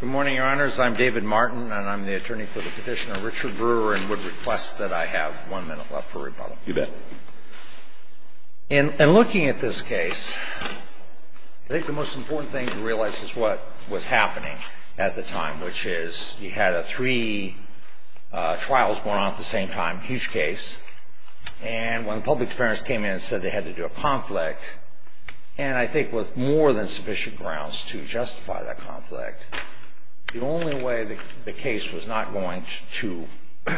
Good morning, Your Honors. I'm David Martin, and I'm the attorney for the petitioner Richard Brewer, and would request that I have one minute left for rebuttal. You bet. And looking at this case, I think the most important thing to realize is what was happening at the time, which is you had three trials going on at the same time, huge case, and when public defenders came in and said they had to do a conflict, and I think with more than sufficient grounds to justify that conflict, the only way the case was not going to be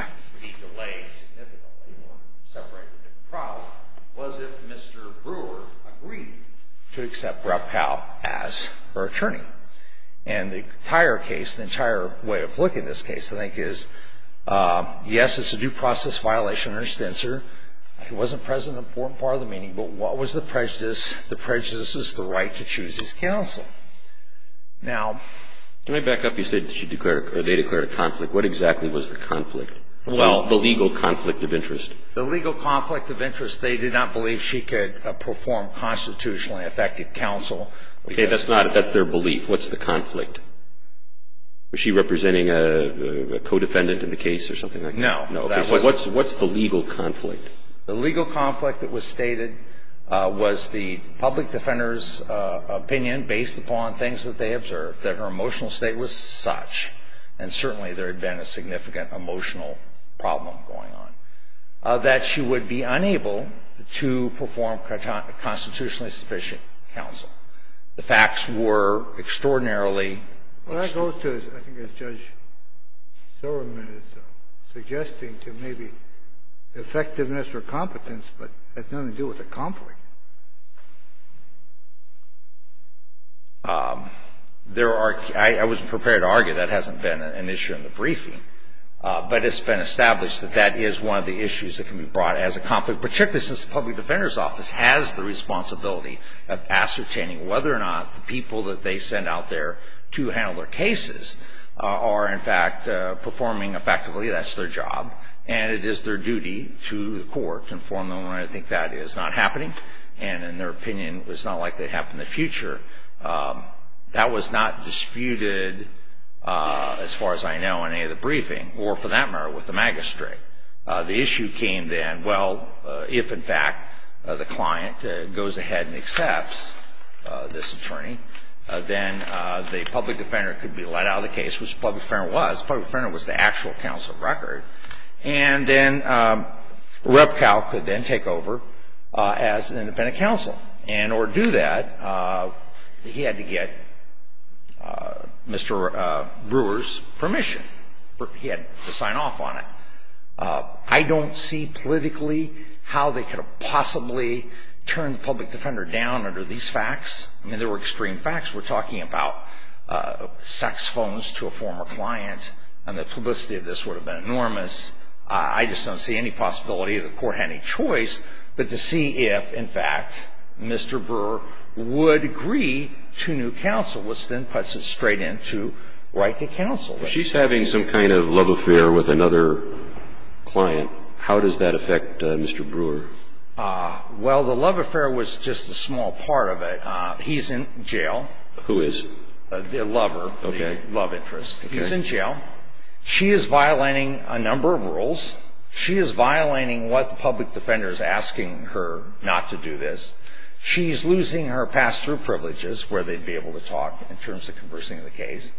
delayed significantly or separated from the trial was if Mr. Brewer agreed to accept Rappel as her attorney. And the entire case, the entire way of looking at this case, I think is, yes, it's a due process violation or extensor. It wasn't present in the important part of the meeting, but what was the prejudice? The prejudice is the right to choose his counsel. Now, Let me back up. You said she declared a conflict. What exactly was the conflict? Well, the legal conflict of interest. The legal conflict of interest, they did not believe she could perform constitutionally effective counsel. Okay. That's their belief. What's the conflict? Was she representing a co-defendant in the case or something like that? No. What's the legal conflict? The legal conflict that was stated was the public defender's opinion based upon things that they observed, that her emotional state was such, and certainly there had been a significant emotional problem going on, that she would be unable to perform constitutionally sufficient counsel. The facts were extraordinarily extreme. Well, that goes to, I think as Judge Silverman is suggesting, to maybe effectiveness or competence, but that's nothing to do with a conflict. There are – I wasn't prepared to argue. That hasn't been an issue in the briefing. But it's been established that that is one of the issues that can be brought as a conflict, particularly since the public defender's office has the responsibility of ascertaining whether or not the people that they send out there to handle their cases are, in fact, performing effectively. That's their job. And it is their duty to the court to inform them when I think that is not happening. And in their opinion, it's not likely to happen in the future. That was not disputed, as far as I know, in any of the briefing, or for that matter, with the magistrate. The issue came then, well, if, in fact, the client goes ahead and accepts this attorney, then the public defender could be let out of the case, which the public defender was. The public defender was the actual counsel of record. And then Repcow could then take over as an independent counsel. And in order to do that, he had to get Mr. Brewer's permission. He had to sign off on it. I don't see politically how they could have possibly turned the public defender down under these facts. I mean, there were extreme facts. We're talking about sex phones to a former client, and the publicity of this would have been enormous. I just don't see any possibility that the court had any choice but to see if, in fact, Mr. Brewer would agree to new counsel, which then puts it straight into right to counsel. She's having some kind of love affair with another client. How does that affect Mr. Brewer? Well, the love affair was just a small part of it. He's in jail. Who is? The lover. Okay. The love interest. Okay. He's in jail. She is violating a number of rules. She is violating what the public defender is asking her not to do this. She's losing her pass-through privileges, where they'd be able to talk in terms of conversing the case.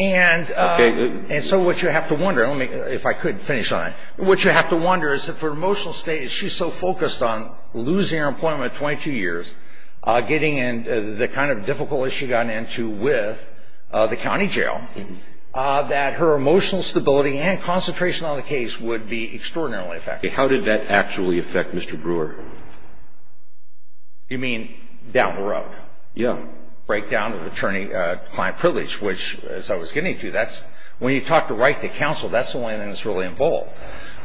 Okay. And so what you have to wonder, if I could finish on it, what you have to wonder is if her emotional state, because she's so focused on losing her employment at 22 years, getting in the kind of difficult issue she got into with the county jail, that her emotional stability and concentration on the case would be extraordinarily affected. Okay. How did that actually affect Mr. Brewer? You mean down the road? Yeah. Breakdown of attorney-client privilege, which, as I was getting to, that's when you talk to right to counsel, that's the only thing that's really involved.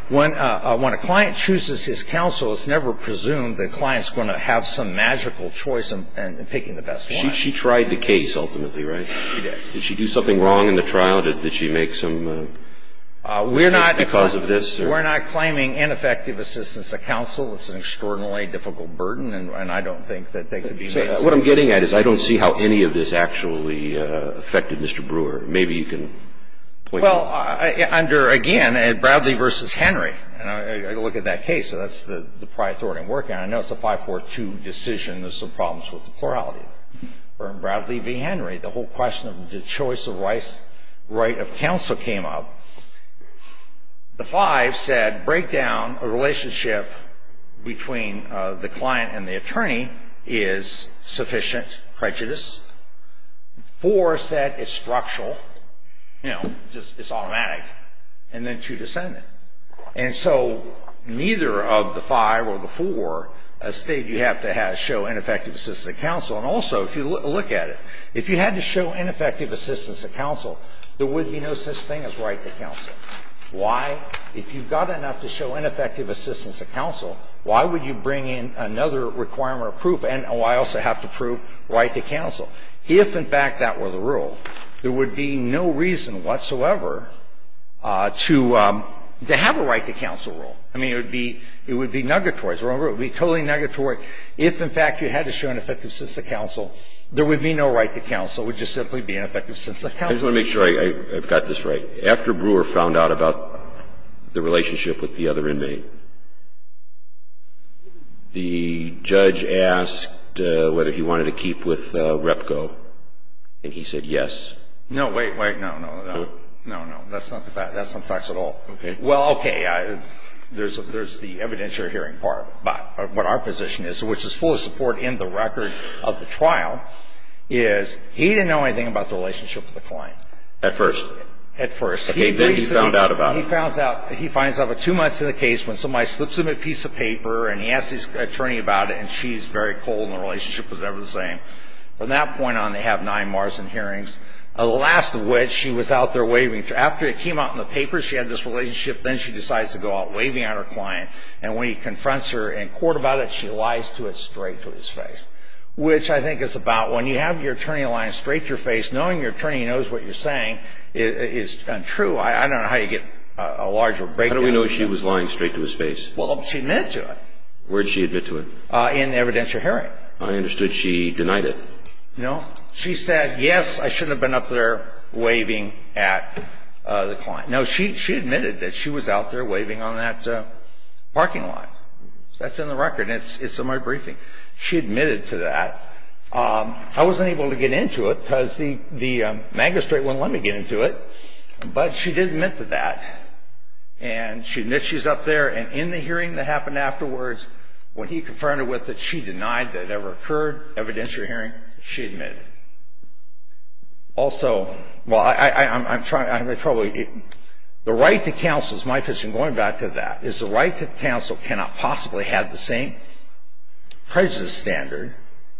When a client chooses his counsel, it's never presumed the client's going to have some magical choice in picking the best one. She tried the case, ultimately, right? She did. Did she do something wrong in the trial? Did she make some mistakes because of this? We're not claiming ineffective assistance to counsel. It's an extraordinarily difficult burden, and I don't think that they could be made to do that. What I'm getting at is I don't see how any of this actually affected Mr. Brewer. Maybe you can point that out. Well, under, again, Bradley v. Henry. I look at that case, and that's the prior authority I'm working on. I know it's a 542 decision. There's some problems with the plurality. Bradley v. Henry, the whole question of the choice of right of counsel came up. The 5 said, break down a relationship between the client and the attorney is sufficient prejudice. 4 said it's structural, you know, it's automatic, and then 2, descendant. And so neither of the 5 or the 4 state you have to show ineffective assistance to counsel. And also, if you look at it, if you had to show ineffective assistance to counsel, there would be no such thing as right to counsel. Why? Why would you bring in another requirement of proof? And why also have to prove right to counsel? If, in fact, that were the rule, there would be no reason whatsoever to have a right to counsel rule. I mean, it would be negatory. Remember, it would be totally negatory. If, in fact, you had to show ineffective assistance to counsel, there would be no right to counsel. It would just simply be ineffective assistance to counsel. I just want to make sure I've got this right. After Brewer found out about the relationship with the other inmate, the judge asked whether he wanted to keep with Repco, and he said yes. No, wait, wait. No, no, no. No, no. That's not the fact. That's not the facts at all. Okay. Well, okay. There's the evidentiary hearing part of what our position is, which is full of support in the record of the trial, is he didn't know anything about the relationship with the client. At first. At first. Okay. Then he found out about it. He finds out about two months in the case when somebody slips him a piece of paper and he asks his attorney about it and she's very cold and the relationship was never the same. From that point on, they have nine Marsden hearings, the last of which she was out there waving. After it came out in the papers, she had this relationship. Then she decides to go out waving at her client. And when he confronts her in court about it, she lies to it straight to his face, which I think is about when you have your attorney lying straight to your face, knowing your attorney knows what you're saying is untrue. I don't know how you get a larger breakdown. How do we know she was lying straight to his face? Well, she admitted to it. Where did she admit to it? In the evidentiary hearing. I understood she denied it. No. She said, yes, I shouldn't have been up there waving at the client. No, she admitted that she was out there waving on that parking lot. That's in the record. It's in my briefing. She admitted to that. I wasn't able to get into it because the magistrate wouldn't let me get into it. But she did admit to that. And she admits she's up there. And in the hearing that happened afterwards, when he confronted her with it, she denied that it ever occurred, evidentiary hearing. She admitted. Also, the right to counsel is my position going back to that. It's the right to counsel cannot possibly have the same prejudice standard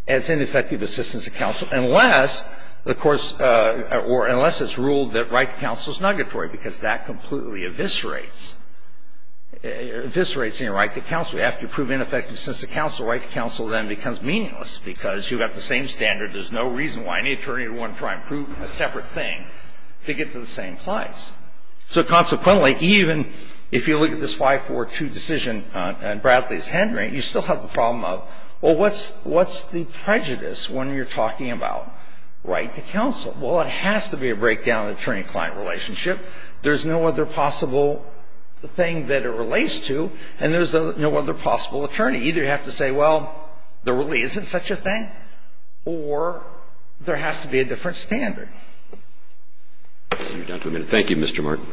as ineffective assistance to counsel unless, of course, or unless it's ruled that right to counsel is negatory because that completely eviscerates any right to counsel. After you prove ineffective assistance to counsel, right to counsel then becomes meaningless because you've got the same standard. There's no reason why any attorney would want to try and prove a separate thing to get to the same place. So consequently, even if you look at this 542 decision in Bradley's Henry, you still have the problem of, well, what's the prejudice when you're talking about right to counsel? Well, it has to be a breakdown in attorney-client relationship. There's no other possible thing that it relates to, and there's no other possible attorney. Either you have to say, well, there really isn't such a thing, or there has to be a different standard. Thank you, Mr. Martin.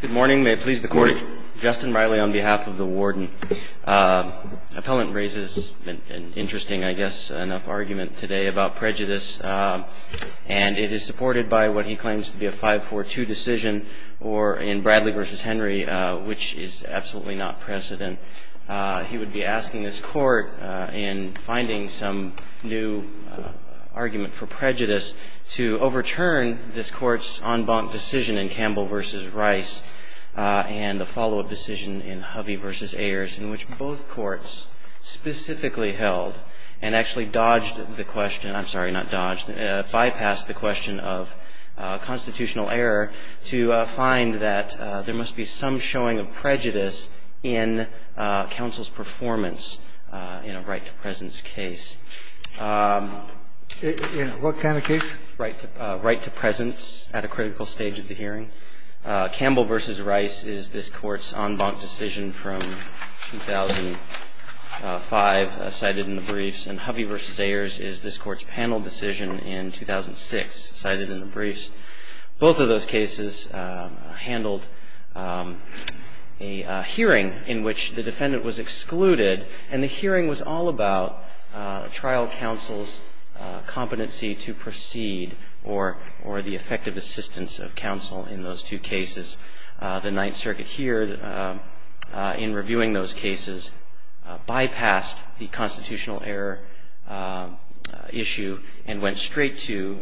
Good morning. May it please the Court. Good morning. Justin Riley on behalf of the Warden. Appellant raises an interesting, I guess, enough argument today about prejudice, and it is supported by what he claims to be a 542 decision or in Bradley v. Henry, which is absolutely not precedent. He would be asking this Court in finding some new argument for prejudice to overturn this Court's en banc decision in Campbell v. Rice and the follow-up decision in Hubby v. Ayers in which both courts specifically held and actually dodged the question I'm sorry, not dodged, bypassed the question of constitutional error to find that there must be some showing of prejudice in counsel's performance in a right-to-presence case. In what kind of case? Right-to-presence at a critical stage of the hearing. Campbell v. Rice is this Court's en banc decision from 2005 cited in the briefs, and Hubby v. Ayers is this Court's panel decision in 2006 cited in the briefs. Both of those cases handled a hearing in which the defendant was excluded, and the hearing was all about trial counsel's competency to proceed or the effective assistance of counsel in those two cases. The Ninth Circuit here in reviewing those cases bypassed the constitutional error issue and went straight to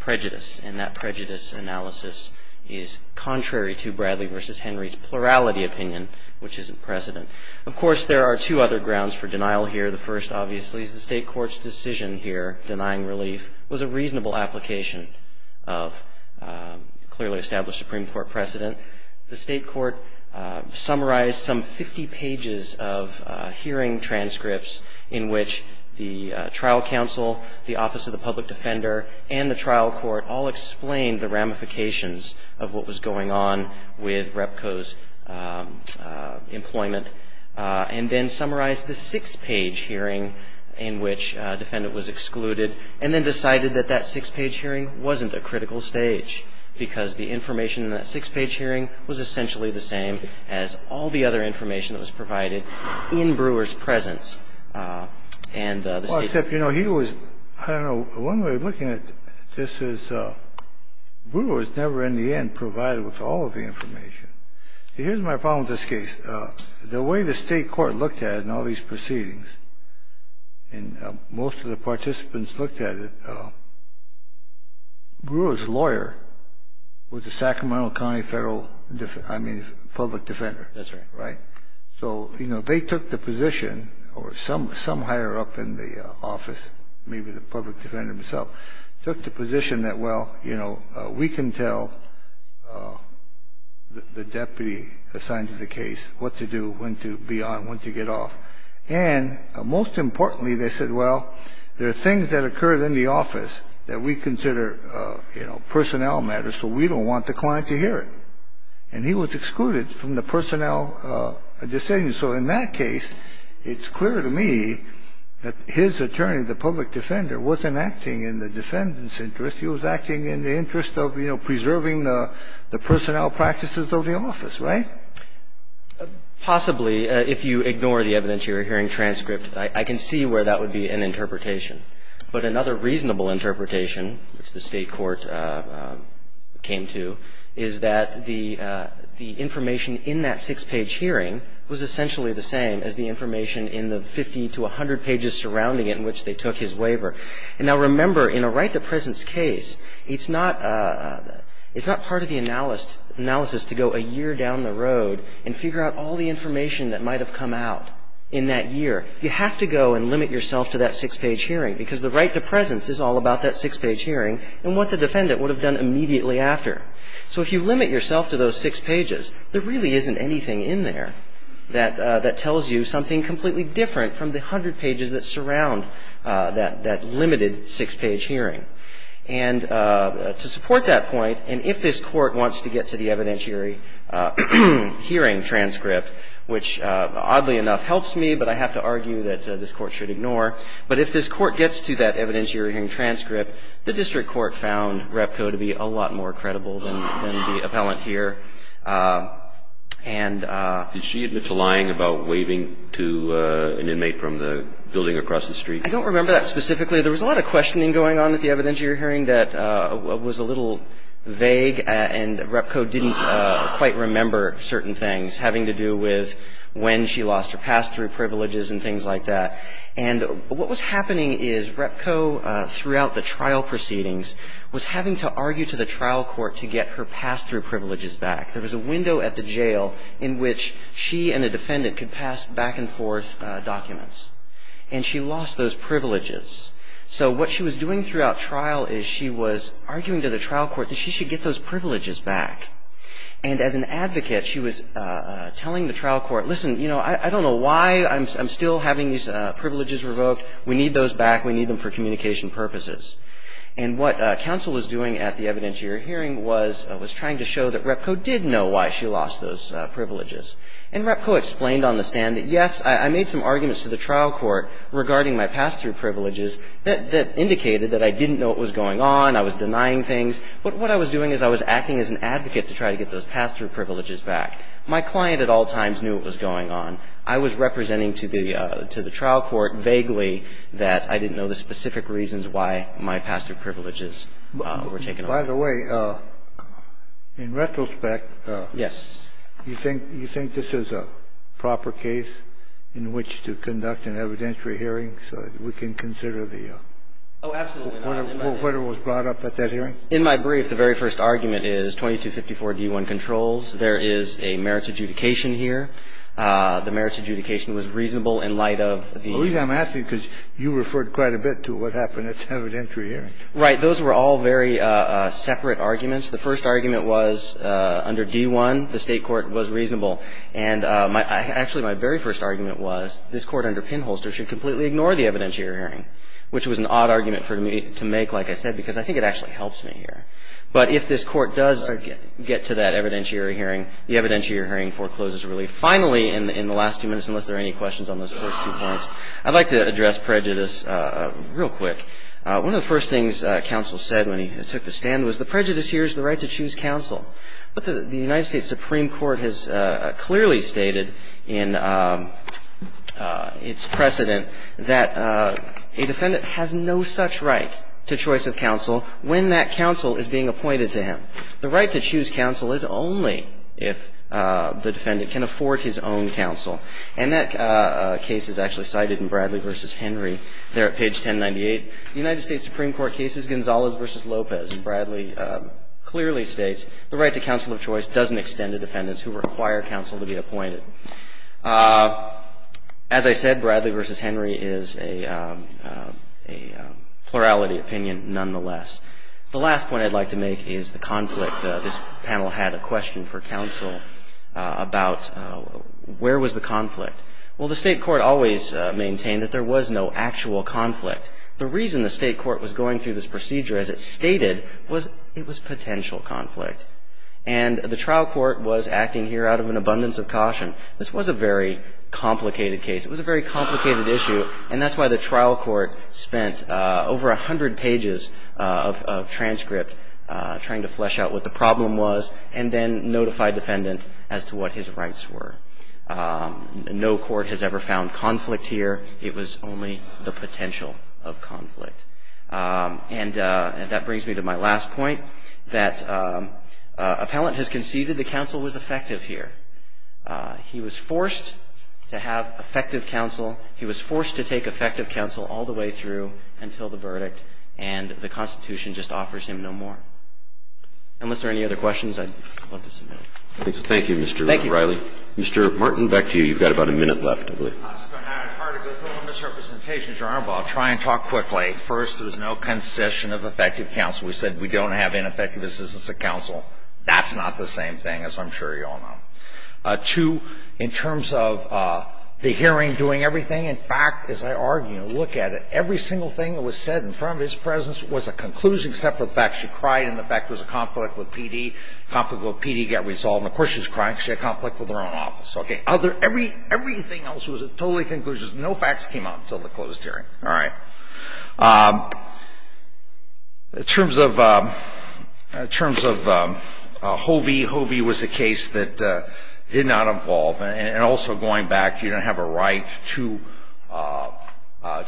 prejudice, and that prejudice analysis is contrary to Bradley v. Henry's plurality opinion, which isn't precedent. Of course, there are two other grounds for denial here. The first, obviously, is the State Court's decision here denying relief was a reasonable application of clearly established Supreme Court precedent. The State Court summarized some 50 pages of hearing transcripts in which the trial counsel, the Office of the Public Defender, and the trial court all explained the ramifications of what was going on with Repco's employment, and then summarized the six-page hearing in which defendant was excluded, and then decided that that six-page hearing wasn't a critical stage because the information in that six-page hearing was essentially the same as all the other information that was provided in Brewer's presence. And the State Court ---- Well, except, you know, he was, I don't know, one way of looking at this is Brewer was never, in the end, provided with all of the information. Here's my problem with this case. The way the State Court looked at it in all these proceedings, and most of the participants looked at it, Brewer's lawyer was a Sacramento County Federal, I mean, public defender. That's right. Right? So, you know, they took the position, or some higher up in the office, maybe the public defender himself, took the position that, well, you know, we can tell the deputy assigned to the case what to do, when to be on, when to get off. And, most importantly, they said, well, there are things that occur in the office that we consider, you know, personnel matters, so we don't want the client to hear it. And he was excluded from the personnel decision. So in that case, it's clear to me that his attorney, the public defender, wasn't acting in the defendant's interest. He was acting in the interest of, you know, preserving the personnel practices of the office. Right? Possibly. If you ignore the evidentiary hearing transcript, I can see where that would be an interpretation. But another reasonable interpretation, which the State Court came to, is that the information in that six-page hearing was essentially the same as the information in the 50 to 100 pages surrounding it in which they took his waiver. And now, remember, in a right-to-presence case, it's not part of the analysis to go a year down the road and figure out all the information that might have come out in that year. You have to go and limit yourself to that six-page hearing, because the right-to-presence is all about that six-page hearing and what the defendant would have done immediately after. So if you limit yourself to those six pages, there really isn't anything in there that tells you something completely different from the 100 pages that surround that limited six-page hearing. And to support that point, and if this Court wants to get to the evidentiary hearing transcript, which, oddly enough, helps me, but I have to argue that this Court should ignore, but if this Court gets to that evidentiary hearing transcript, the district court found Repco to be a lot more credible than the appellant here. And ---- Did she admit to lying about waving to an inmate from the building across the street? I don't remember that specifically. There was a lot of questioning going on at the evidentiary hearing that was a little vague, and Repco didn't quite remember certain things having to do with when she lost her pass through, privileges and things like that. And what was happening is Repco, throughout the trial proceedings, was having to argue to the trial court to get her pass through privileges back. There was a window at the jail in which she and a defendant could pass back and forth documents. And she lost those privileges. So what she was doing throughout trial is she was arguing to the trial court that she should get those privileges back. And as an advocate, she was telling the trial court, listen, you know, I don't know why I'm still having these privileges revoked. We need those back. We need them for communication purposes. And what counsel was doing at the evidentiary hearing was trying to show that Repco did know why she lost those privileges. And Repco explained on the stand that, yes, I made some arguments to the trial court regarding my pass through privileges that indicated that I didn't know what was going on, I was denying things. But what I was doing is I was acting as an advocate to try to get those pass through privileges back. My client at all times knew what was going on. I was representing to the trial court vaguely that I didn't know the specific reasons why my pass through privileges were taken away. By the way, in retrospect. Yes. You think this is a proper case in which to conduct an evidentiary hearing so that we can consider the. Oh, absolutely. What was brought up at that hearing. In my brief, the very first argument is 2254d1 controls. There is a merits adjudication here. The merits adjudication was reasonable in light of the. I'm asking because you referred quite a bit to what happened at the evidentiary hearing. Right. Those were all very separate arguments. The first argument was under d1, the State court was reasonable. And actually my very first argument was this Court under Pinholster should completely ignore the evidentiary hearing, which was an odd argument for me to make, like I said, because I think it actually helps me here. But if this Court does get to that evidentiary hearing, the evidentiary hearing forecloses relief. Finally, in the last two minutes, unless there are any questions on those first two points, I'd like to address prejudice real quick. One of the first things counsel said when he took the stand was the prejudice here is the right to choose counsel. But the United States Supreme Court has clearly stated in its precedent that a defendant has no such right to choice of counsel when that counsel is being appointed to him. The right to choose counsel is only if the defendant can afford his own counsel. And that case is actually cited in Bradley v. Henry there at page 1098. The United States Supreme Court case is Gonzalez v. Lopez. Bradley clearly states the right to counsel of choice doesn't extend to defendants who require counsel to be appointed. As I said, Bradley v. Henry is a plurality opinion nonetheless. The last point I'd like to make is the conflict. This panel had a question for counsel about where was the conflict. Well, the State Court always maintained that there was no actual conflict. The reason the State Court was going through this procedure as it stated was it was potential conflict. And the trial court was acting here out of an abundance of caution. This was a very complicated case. It was a very complicated issue. And that's why the trial court spent over a hundred pages of transcript trying to flesh out what the problem was and then notify defendants as to what his rights were. No court has ever found conflict here. It was only the potential of conflict. And that brings me to my last point, that appellant has conceived that the counsel was effective here. He was forced to have effective counsel. He was forced to take effective counsel all the way through until the verdict. And the Constitution just offers him no more. Unless there are any other questions, I'd love to submit them. Thank you, Mr. Riley. Thank you. Mr. Martin, back to you. You've got about a minute left, I believe. It's going to be hard to go through all the misrepresentations, Your Honor, but I'll try and talk quickly. First, there was no concession of effective counsel. We said we don't have ineffective assistance of counsel. That's not the same thing, as I'm sure you all know. Two, in terms of the hearing doing everything, in fact, as I argue and look at it, every single thing that was said in front of his presence was a conclusion except for the fact she cried and the fact there was a conflict with PD. Conflict with PD got resolved. And, of course, she was crying because she had conflict with her own office. Okay. Everything else was a totally conclusion. No facts came out until the closed hearing. All right. In terms of Hovey, Hovey was a case that did not evolve. And also, going back, you don't have a right to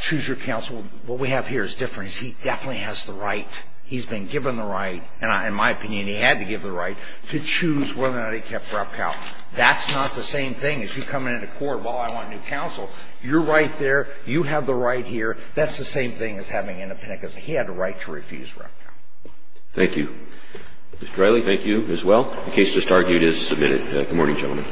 choose your counsel. What we have here is different. He definitely has the right. He's been given the right. In my opinion, he had to give the right to choose whether or not he kept rep count. That's not the same thing as you coming into court, well, I want new counsel. You're right there. You have the right here. That's the same thing as having independent counsel. He had the right to refuse rep count. Thank you. Mr. Riley, thank you as well. The case just argued is submitted. Good morning, gentlemen.